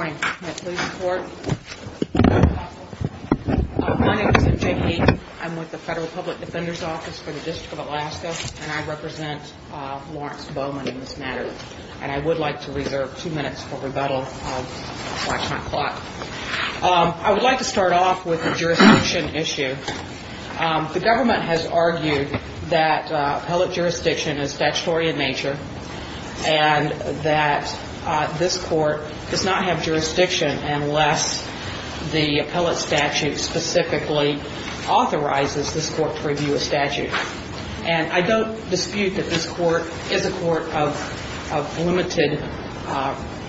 I would like to start off with the jurisdiction issue. The government has argued that appellate statute specifically authorizes this Court to review a statute. And I don't dispute that this Court is a Court of limited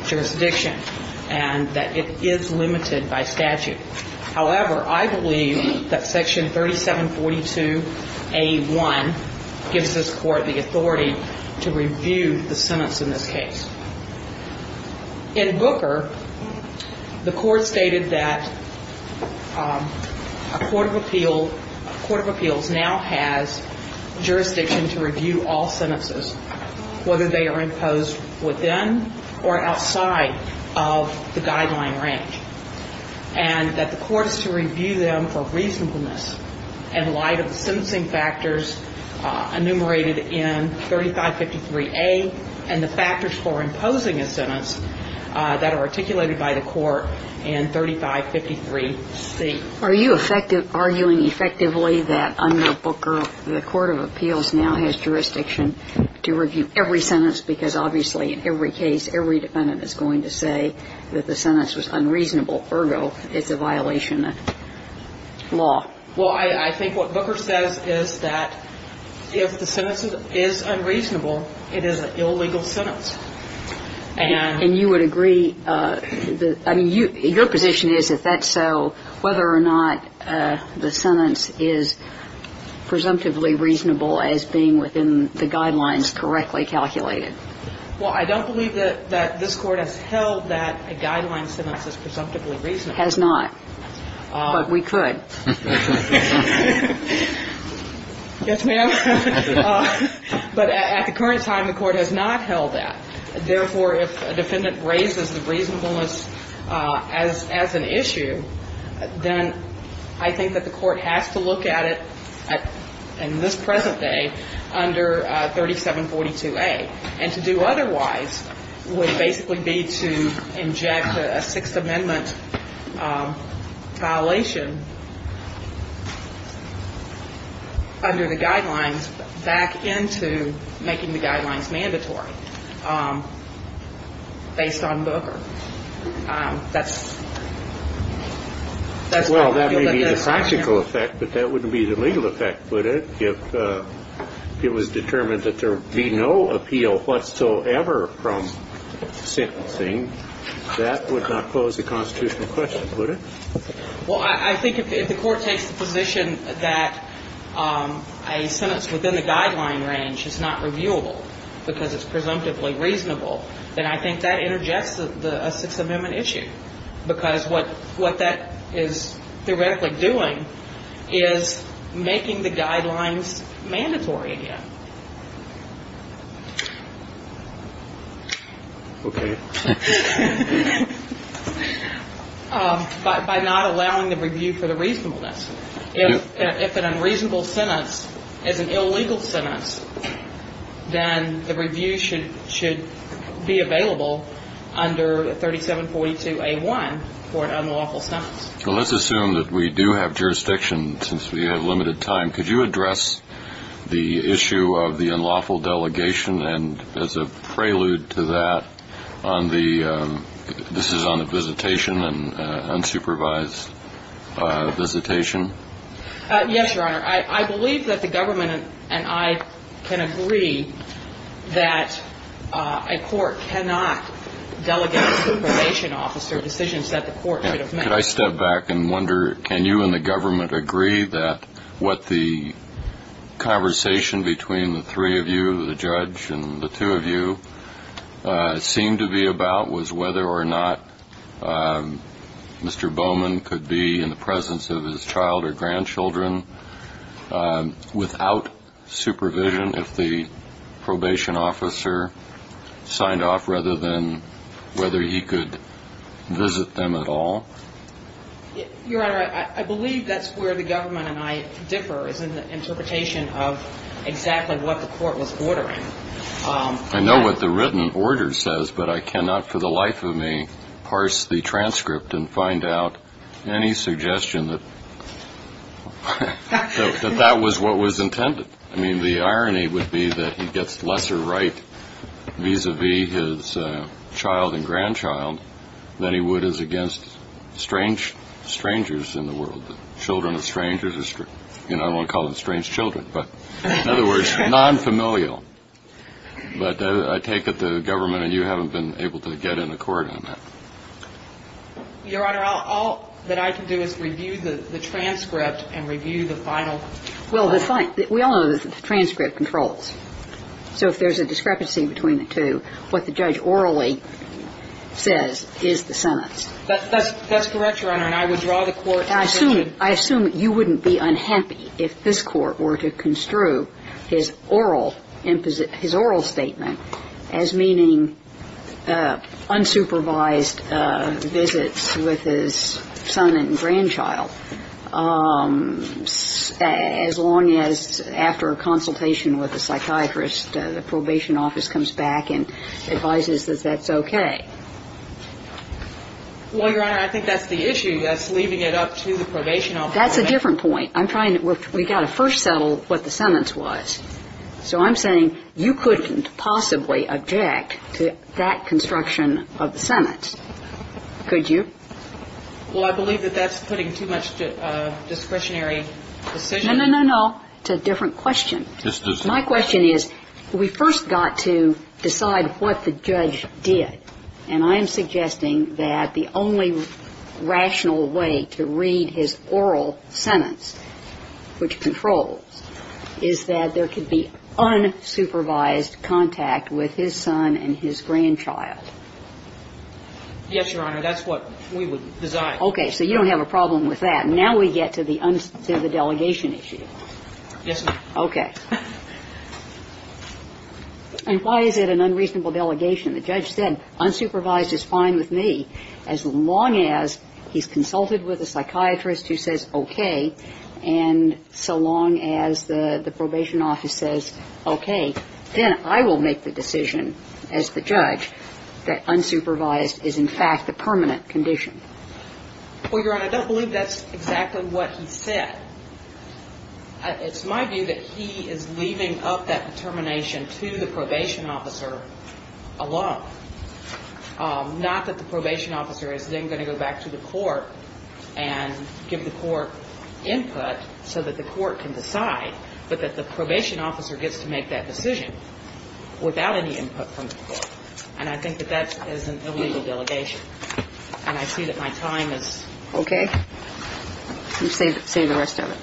jurisdiction and that it is limited by statute. However, I believe that Section 3742A1 gives this Court the authority to review the sentence in this case. In Booker, the Court stated that a Court of Appeals now has jurisdiction to review all sentences whether they are imposed within or outside of the guideline range. And that the Court is to review them for reasonableness in light of the sentencing factors enumerated in 3553A and the factors for imposing a sentence that are articulated by the Court in 3553C. Are you arguing effectively that under Booker the Court of Appeals now has jurisdiction to review every sentence because obviously in every case every defendant is going to say that the sentence was unreasonable, ergo it's a violation of law? Well, I think what Booker says is that if the sentence is unreasonable, it is an illegal sentence. And you would agree, I mean, your position is if that's so, whether or not the sentence is presumptively reasonable as being within the guidelines correctly calculated? Well, I don't believe that this Court has held that a guideline sentence is presumptively reasonable. Has not. But we could. Yes, ma'am. But at the current time, the Court has not held that. Therefore, if a defendant raises the reasonableness as an issue, then I think that the Court has to look at it in this present day under 3742A. And to do otherwise would basically be to inject a Sixth Amendment violation under the guidelines back into making the guidelines mandatory based on Booker. That's why we did this, ma'am. Well, that may be the practical effect, but that wouldn't be the legal effect, would it? Well, I think if the Court takes the position that a sentence within the guideline range is not reviewable because it's presumptively reasonable, then I think that interjects a Sixth Amendment issue. Because what that is theoretically doing is making the guidelines mandatory again. Okay. By not allowing the review for the reasonableness. If an unreasonable sentence is an illegal sentence, then the review should be available under 3742A.1 for an unlawful sentence. Well, let's assume that we do have jurisdiction since we have limited time. Could you address the issue of the unlawful delegation? And as a prelude to that, this is on a visitation, an unsupervised visitation? Yes, Your Honor. I believe that the government and I can agree that a court cannot delegate to a probation officer decisions that the court should have made. Could I step back and wonder, can you and the government agree that what the conversation between the three of you, the judge and the two of you, seemed to be about was whether or not Mr. Bowman could be in the presence of his child or grandchildren without supervision if the probation officer signed off rather than whether he could visit them at all? Your Honor, I believe that's where the government and I differ is in the interpretation of exactly what the court was ordering. I know what the written order says, but I cannot for the life of me parse the transcript and find out any suggestion that that was what was intended. I mean, the irony would be that he gets lesser right vis-à-vis his child and grandchild than he would as against strangers in the world, children of strangers. I don't want to call them strange children, but in other words, non-familial. But I take it the government and you haven't been able to get an accord on that. Your Honor, all that I can do is review the transcript and review the final. Well, that's fine. We all know that the transcript controls. So if there's a discrepancy between the two, what the judge orally says is the sentence. That's correct, Your Honor, and I would draw the court's attention to that. I assume you wouldn't be unhappy if this Court were to construe his oral statement as meaning unsupervised visits with his son and grandchild as long as after a consultation with a psychiatrist, the probation office comes back and advises that that's okay. Well, Your Honor, I think that's the issue. That's leaving it up to the probation office. That's a different point. We've got to first settle what the sentence was. So I'm saying you couldn't possibly object to that construction of the sentence, could you? Well, I believe that that's putting too much discretionary decision. No, no, no, no. It's a different question. My question is, we first got to decide what the judge did, and I am suggesting that the only rational way to read his oral sentence, which controls, is that there could be unsupervised contact with his son and his grandchild. Yes, Your Honor. That's what we would design. Okay. So you don't have a problem with that. Now we get to the delegation issue. Yes, ma'am. Okay. And why is it an unreasonable delegation? The judge said, unsupervised is fine with me as long as he's consulted with a psychiatrist who says okay, and so long as the probation office says okay, then I will make the decision as the judge that unsupervised is in fact a permanent condition. Well, Your Honor, I don't believe that's exactly what he said. It's my view that he is leaving up that determination to the probation officer alone, not that the probation officer is then going to go back to the court and give the court input so that the court can decide, but that the probation officer gets to make that decision without any input from the court. And I think that that is an illegal delegation. And I see that my time is up. Okay. Let me save the rest of it.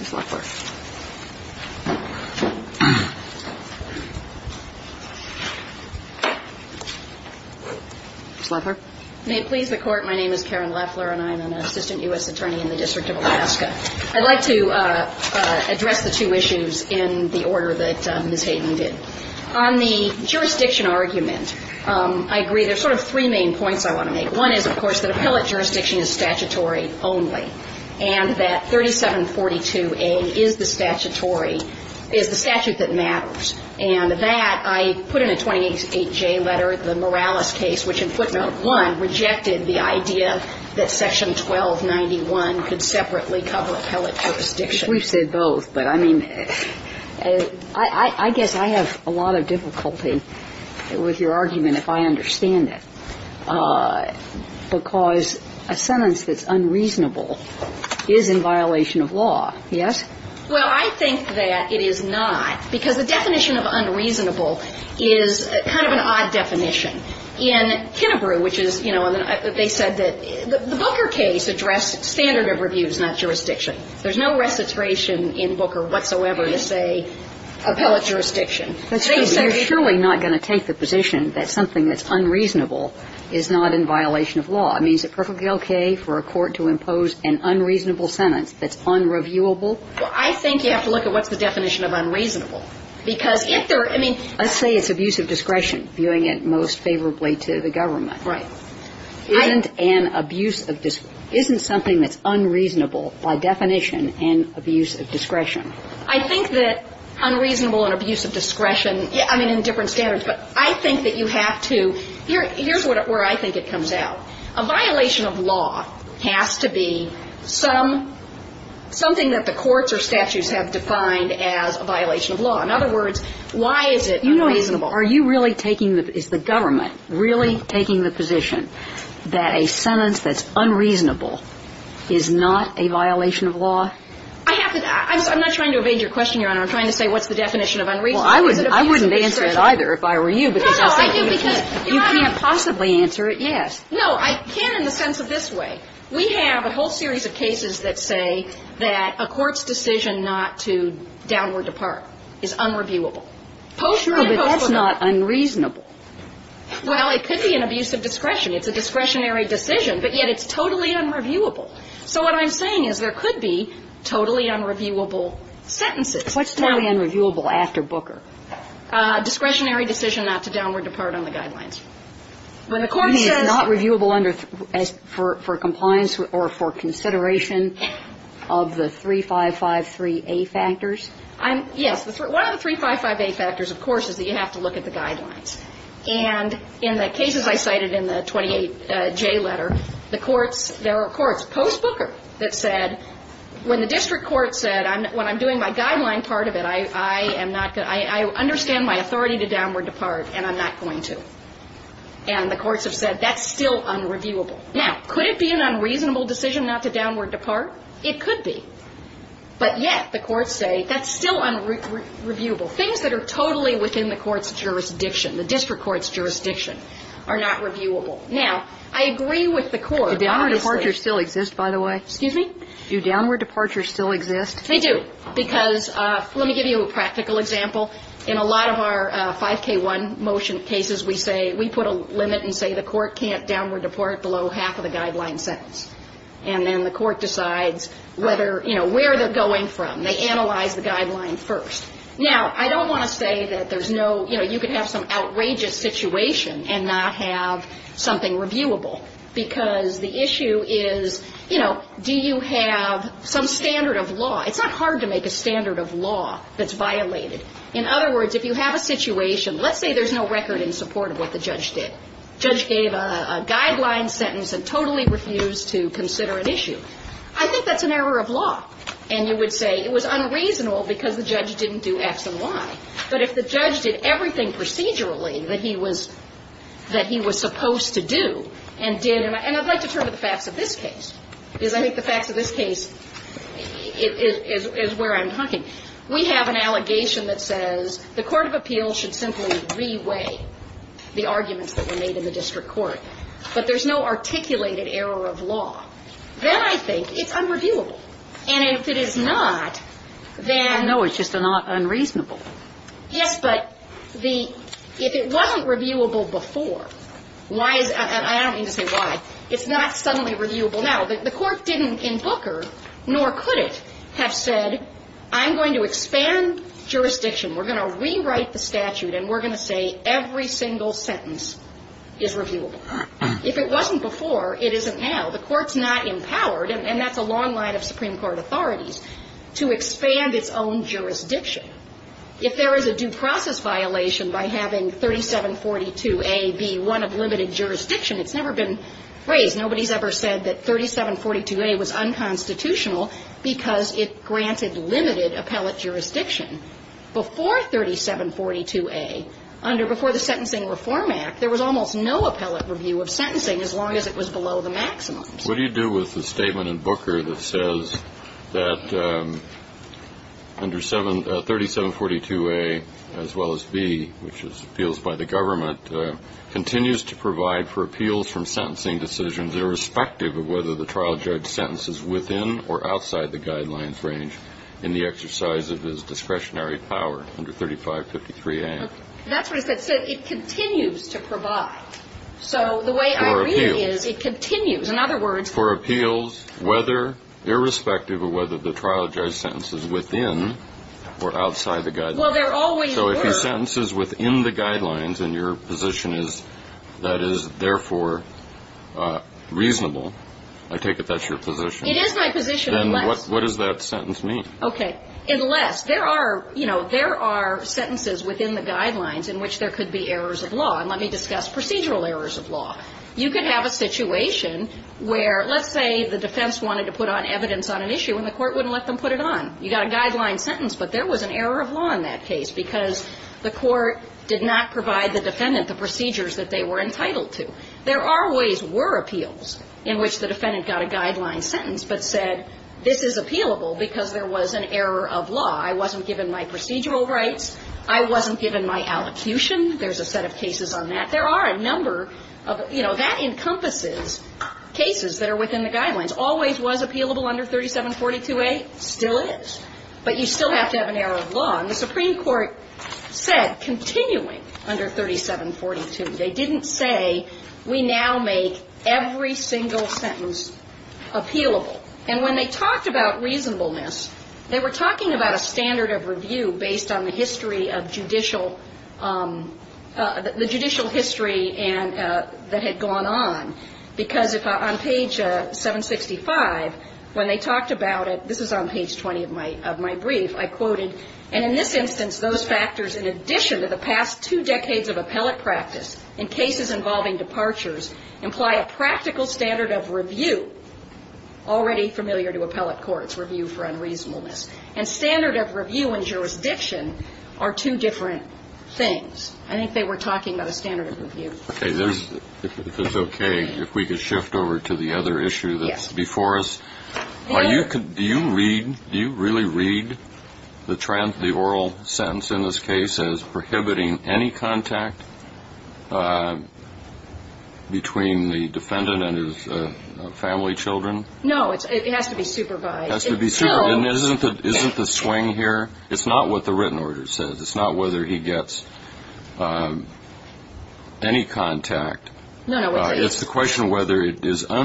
Ms. Leffler. Ms. Leffler. May it please the Court, my name is Karen Leffler, and I am an assistant U.S. attorney in the District of Alaska. I'd like to address the two issues in the order that Ms. Hayden did. On the jurisdiction argument, I agree there's sort of three main points I want to make. One is, of course, that appellate jurisdiction is statutory only, and that 3742A is the statutory, is the statute that matters. And that I put in a 28J letter, the Morales case, which in footnote 1 rejected the idea that section 1291 could separately cover appellate jurisdiction. We've said both, but I mean, I guess I have a lot of difficulty with your argument if I understand it. Because a sentence that's unreasonable is in violation of law, yes? Well, I think that it is not, because the definition of unreasonable is kind of an odd definition. In Kennebrew, which is, you know, they said that the Booker case addressed standard of review, not jurisdiction. There's no recitation in Booker whatsoever to say appellate jurisdiction. But you're surely not going to take the position that something that's unreasonable is not in violation of law. I mean, is it perfectly okay for a court to impose an unreasonable sentence that's unreviewable? Well, I think you have to look at what's the definition of unreasonable, because if they're – I mean – Let's say it's abuse of discretion, viewing it most favorably to the government. Right. Isn't an abuse of – isn't something that's unreasonable by definition an abuse of discretion? I think that unreasonable and abuse of discretion – I mean, in different standards. But I think that you have to – here's where I think it comes out. A violation of law has to be some – something that the courts or statutes have defined as a violation of law. In other words, why is it unreasonable? Are you really taking – is the government really taking the position that a sentence that's unreasonable is not a violation of law? I have to – I'm not trying to evade your question, Your Honor. I'm trying to say what's the definition of unreasonable. Well, I wouldn't answer it either if I were you, because I think you can't possibly answer it yes. No, I can in the sense of this way. We have a whole series of cases that say that a court's decision not to downward depart is unreviewable. Sure, but that's not unreasonable. Well, it could be an abuse of discretion. It's a discretionary decision, but yet it's totally unreviewable. So what I'm saying is there could be totally unreviewable sentences. What's totally unreviewable after Booker? Discretionary decision not to downward depart on the guidelines. When the court says – You mean it's not reviewable under – for compliance or for consideration of the 3553A factors? Yes. One of the 3553A factors, of course, is that you have to look at the guidelines. And in the cases I cited in the 28J letter, the courts – there are courts post Booker that said when the district court said when I'm doing my guideline part of it, I am not – I understand my authority to downward depart and I'm not going to. And the courts have said that's still unreviewable. Now, could it be an unreasonable decision not to downward depart? It could be. But yet the courts say that's still unreviewable. Things that are totally within the court's jurisdiction, the district court's jurisdiction, are not reviewable. Now, I agree with the court. Do downward departures still exist, by the way? Excuse me? Do downward departures still exist? They do. Because let me give you a practical example. In a lot of our 5K1 motion cases, we say – we put a limit and say the court can't downward depart below half of the guideline sentence. And then the court decides whether – you know, where they're going from. They analyze the guideline first. Now, I don't want to say that there's no – you know, you could have some outrageous situation and not have something reviewable. Because the issue is, you know, do you have some standard of law? It's not hard to make a standard of law that's violated. In other words, if you have a situation – let's say there's no record in support of what the judge did. The judge gave a guideline sentence and totally refused to consider an issue. I think that's an error of law. And you would say it was unreasonable because the judge didn't do X and Y. But if the judge did everything procedurally that he was – that he was supposed to do and did – and I'd like to turn to the facts of this case. Because I think the facts of this case is where I'm talking. We have an allegation that says the court of appeals should simply re-weigh the arguments that were made in the district court. But there's no articulated error of law. Then I think it's unreviewable. And if it is not, then – No, it's just unreasonable. Yes, but the – if it wasn't reviewable before, why is – I don't mean to say why. It's not suddenly reviewable now. The court didn't in Booker, nor could it, have said I'm going to expand jurisdiction. We're going to rewrite the statute and we're going to say every single sentence is reviewable. If it wasn't before, it isn't now. The court's not empowered – and that's a long line of Supreme Court authorities – to expand its own jurisdiction. If there is a due process violation by having 3742A be one of limited jurisdiction, it's never been raised. Nobody's ever said that 3742A was unconstitutional because it granted limited appellate jurisdiction. Before 3742A, under – before the Sentencing Reform Act, there was almost no appellate review of sentencing as long as it was below the maximum. What do you do with the statement in Booker that says that under 3742A as well as B, which is appeals by the government, continues to provide for appeals from sentencing decisions irrespective of whether the trial judge's sentence is within or outside the guidelines range in the exercise of his discretionary power under 3553A? That's what it said. It said it continues to provide. So the way I read it is it continues. In other words – For appeals whether – irrespective of whether the trial judge's sentence is within or outside the guidelines. Well, there always were. So if his sentence is within the guidelines and your position is that is therefore reasonable, I take it that's your position. It is my position unless – Then what does that sentence mean? Okay. Unless there are, you know, there are sentences within the guidelines in which there could be errors of law. And let me discuss procedural errors of law. You could have a situation where let's say the defense wanted to put on evidence on an issue and the court wouldn't let them put it on. You got a guideline sentence, but there was an error of law in that case because the court did not provide the defendant the procedures that they were entitled to. There always were appeals in which the defendant got a guideline sentence but said this is appealable because there was an error of law. I wasn't given my procedural rights. I wasn't given my allocution. There's a set of cases on that. There are a number of, you know, that encompasses cases that are within the guidelines. Always was appealable under 3742A? Still is. But you still have to have an error of law. And the Supreme Court said continuing under 3742, they didn't say we now make every single sentence appealable. And when they talked about reasonableness, they were talking about a standard of review based on the history of judicial – the judicial history that had gone on. Because if on page 765, when they talked about it, this is on page 20 of my brief, I quoted, and in this instance, those factors in addition to the past two decades of appellate practice in cases involving departures imply a practical standard of review already familiar to appellate courts, review for unreasonableness. And standard of review in jurisdiction are two different things. I think they were talking about a standard of review. Okay. If it's okay, if we could shift over to the other issue that's before us. Do you read – do you really read the oral sentence in this case as prohibiting any contact between the defendant and his family children? No. It has to be supervised. It has to be supervised. And isn't the swing here – it's not what the written order says. It's not whether he gets any contact. No, no. It's the question of whether it is –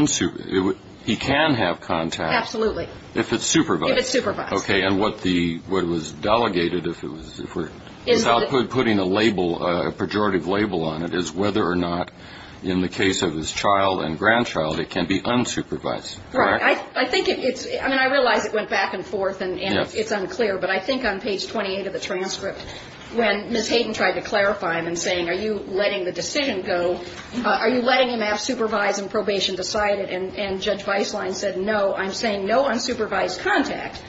he can have contact. Absolutely. If it's supervised. If it's supervised. Okay. And what the – what was delegated, if we're putting a label, a pejorative label on it, is whether or not in the case of his child and grandchild it can be unsupervised. Correct? Right. I think it's – I mean, I realize it went back and forth and it's unclear, but I think on page 28 of the transcript when Ms. Hayden tried to clarify him and saying, are you letting the decision go, are you letting him have supervised and probation decided, and Judge Beislein said, no, I'm saying no unsupervised contact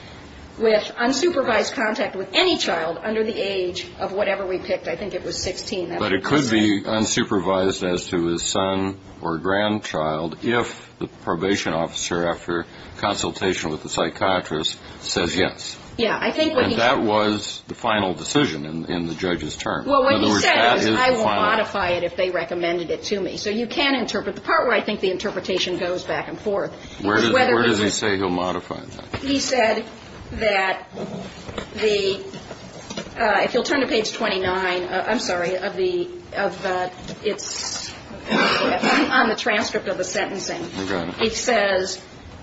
with – unsupervised contact with any child under the age of whatever we picked. I think it was 16. But it could be unsupervised as to his son or grandchild if the probation officer after consultation with the psychiatrist says yes. Yeah. I think what he – And that was the final decision in the judge's term. Well, what he said was I won't modify it if they recommended it to me. So you can interpret the part where I think the interpretation goes back and forth. Where does he say he'll modify that? He said that the – if you'll turn to page 29, I'm sorry, of the – of the – it's on the transcript of the sentencing. Okay. And it says,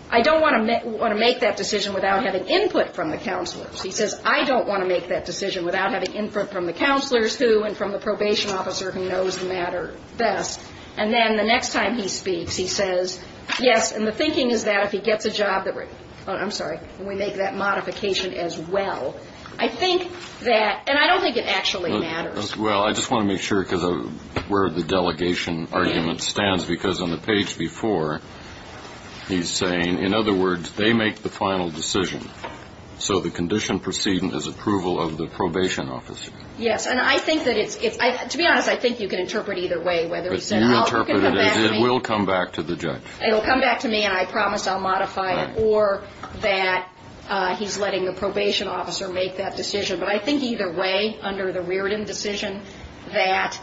I don't want to make that decision without having input from the counselors. He says, I don't want to make that decision without having input from the counselors who and from the probation officer who knows the matter best. And then the next time he speaks, he says, yes, and the thinking is that if he gets a job that we're – I'm sorry, we make that modification as well. I think that – and I don't think it actually matters. Well, I just want to make sure because of where the delegation argument stands because on the page before, he's saying, in other words, they make the final decision. So the condition proceeding is approval of the probation officer. Yes. And I think that it's – to be honest, I think you can interpret either way, whether he said I'll – But you interpret it as it will come back to the judge. It will come back to me and I promise I'll modify it or that he's letting the probation officer make that decision. But I think either way, under the Reardon decision, that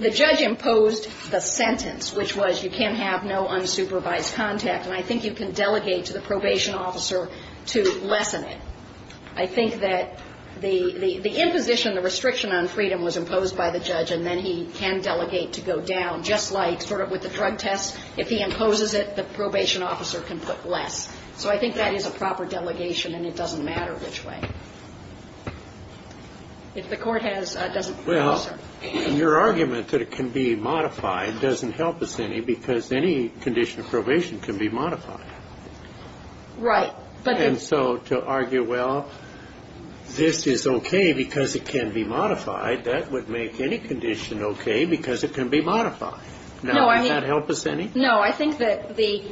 the judge imposed the sentence, which was you can have no unsupervised contact. And I think you can delegate to the probation officer to lessen it. I think that the imposition, the restriction on freedom was imposed by the judge and then he can delegate to go down, just like sort of with the drug test. If he imposes it, the probation officer can put less. So I think that is a proper delegation and it doesn't matter which way. If the Court has – doesn't – It doesn't help us any because any condition of probation can be modified. Right. And so to argue, well, this is okay because it can be modified, that would make any condition okay because it can be modified. Now, would that help us any? No. I think that the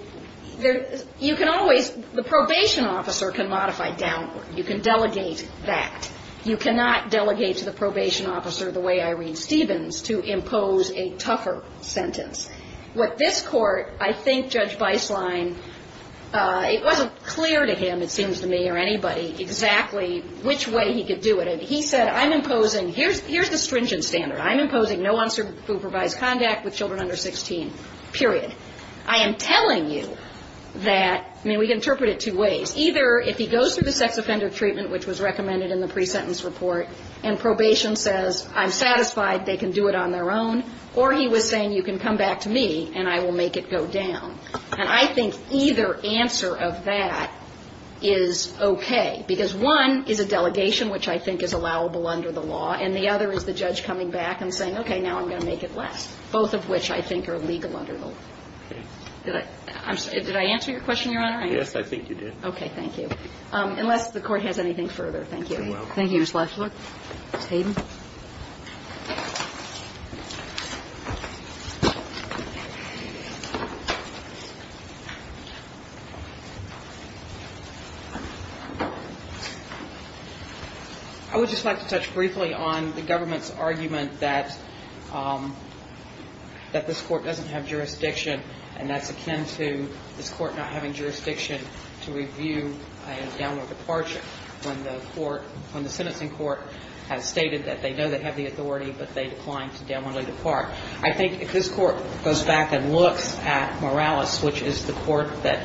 – you can always – the probation officer can modify downward. You can delegate that. You cannot delegate to the probation officer the way Irene Stevens to impose a tougher sentence. What this Court, I think Judge Beislein, it wasn't clear to him, it seems to me or anybody, exactly which way he could do it. And he said, I'm imposing – here's the stringent standard. I'm imposing no unsupervised contact with children under 16, period. I am telling you that – I mean, we can interpret it two ways. Either if he goes through the sex offender treatment, which was recommended in the pre-sentence report, and probation says, I'm satisfied, they can do it on their own, or he was saying, you can come back to me and I will make it go down. And I think either answer of that is okay. Because one is a delegation, which I think is allowable under the law, and the other is the judge coming back and saying, okay, now I'm going to make it less, both of which I think are legal under the law. Did I answer your question, Your Honor? Yes, I think you did. Okay. Thank you. Unless the Court has anything further, thank you. You're welcome. Thank you, Ms. Lefler. Ms. Hayden. I would just like to touch briefly on the government's argument that this Court doesn't have jurisdiction, and that's akin to this Court not having jurisdiction to review a downward departure when the court, when the sentencing court has stated that they know they have the authority, but they decline to downwardly depart. I think if this Court goes back and looks at Morales, which is the court that,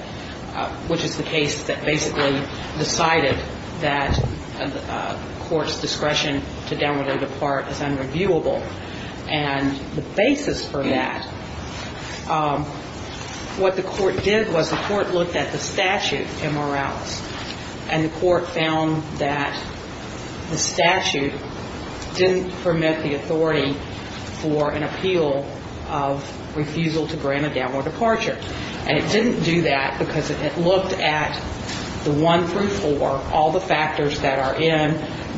which is the case that basically decided that a court's discretion to downwardly depart is unreviewable, and the basis for that, what the court did was the court looked at the statute in Morales, and the court found that the statute didn't permit the authority for an appeal of refusal to grant a downward departure. And it didn't do that because it looked at the 1 through 4, all the factors that are in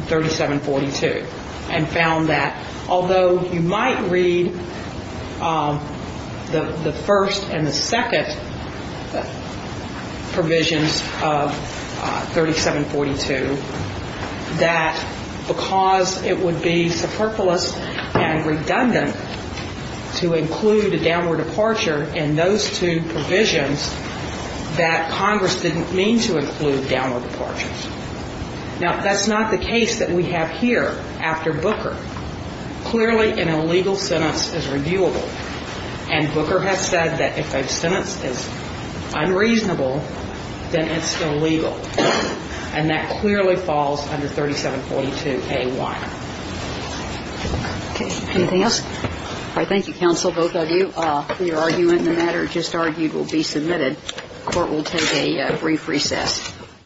3742, and found that although you might read the first and the second provisions of 3742, that because it would be superfluous and redundant to include a downward departure in those two provisions, that Congress didn't mean to include downward departures. Now, that's not the case that we have here after Booker. Clearly, an illegal sentence is reviewable. And Booker has said that if a sentence is unreasonable, then it's illegal. And that clearly falls under 3742A1. Okay. Anything else? All right. Thank you, counsel, both of you. Your argument in the matter just argued will be submitted. The Court will take a brief recess.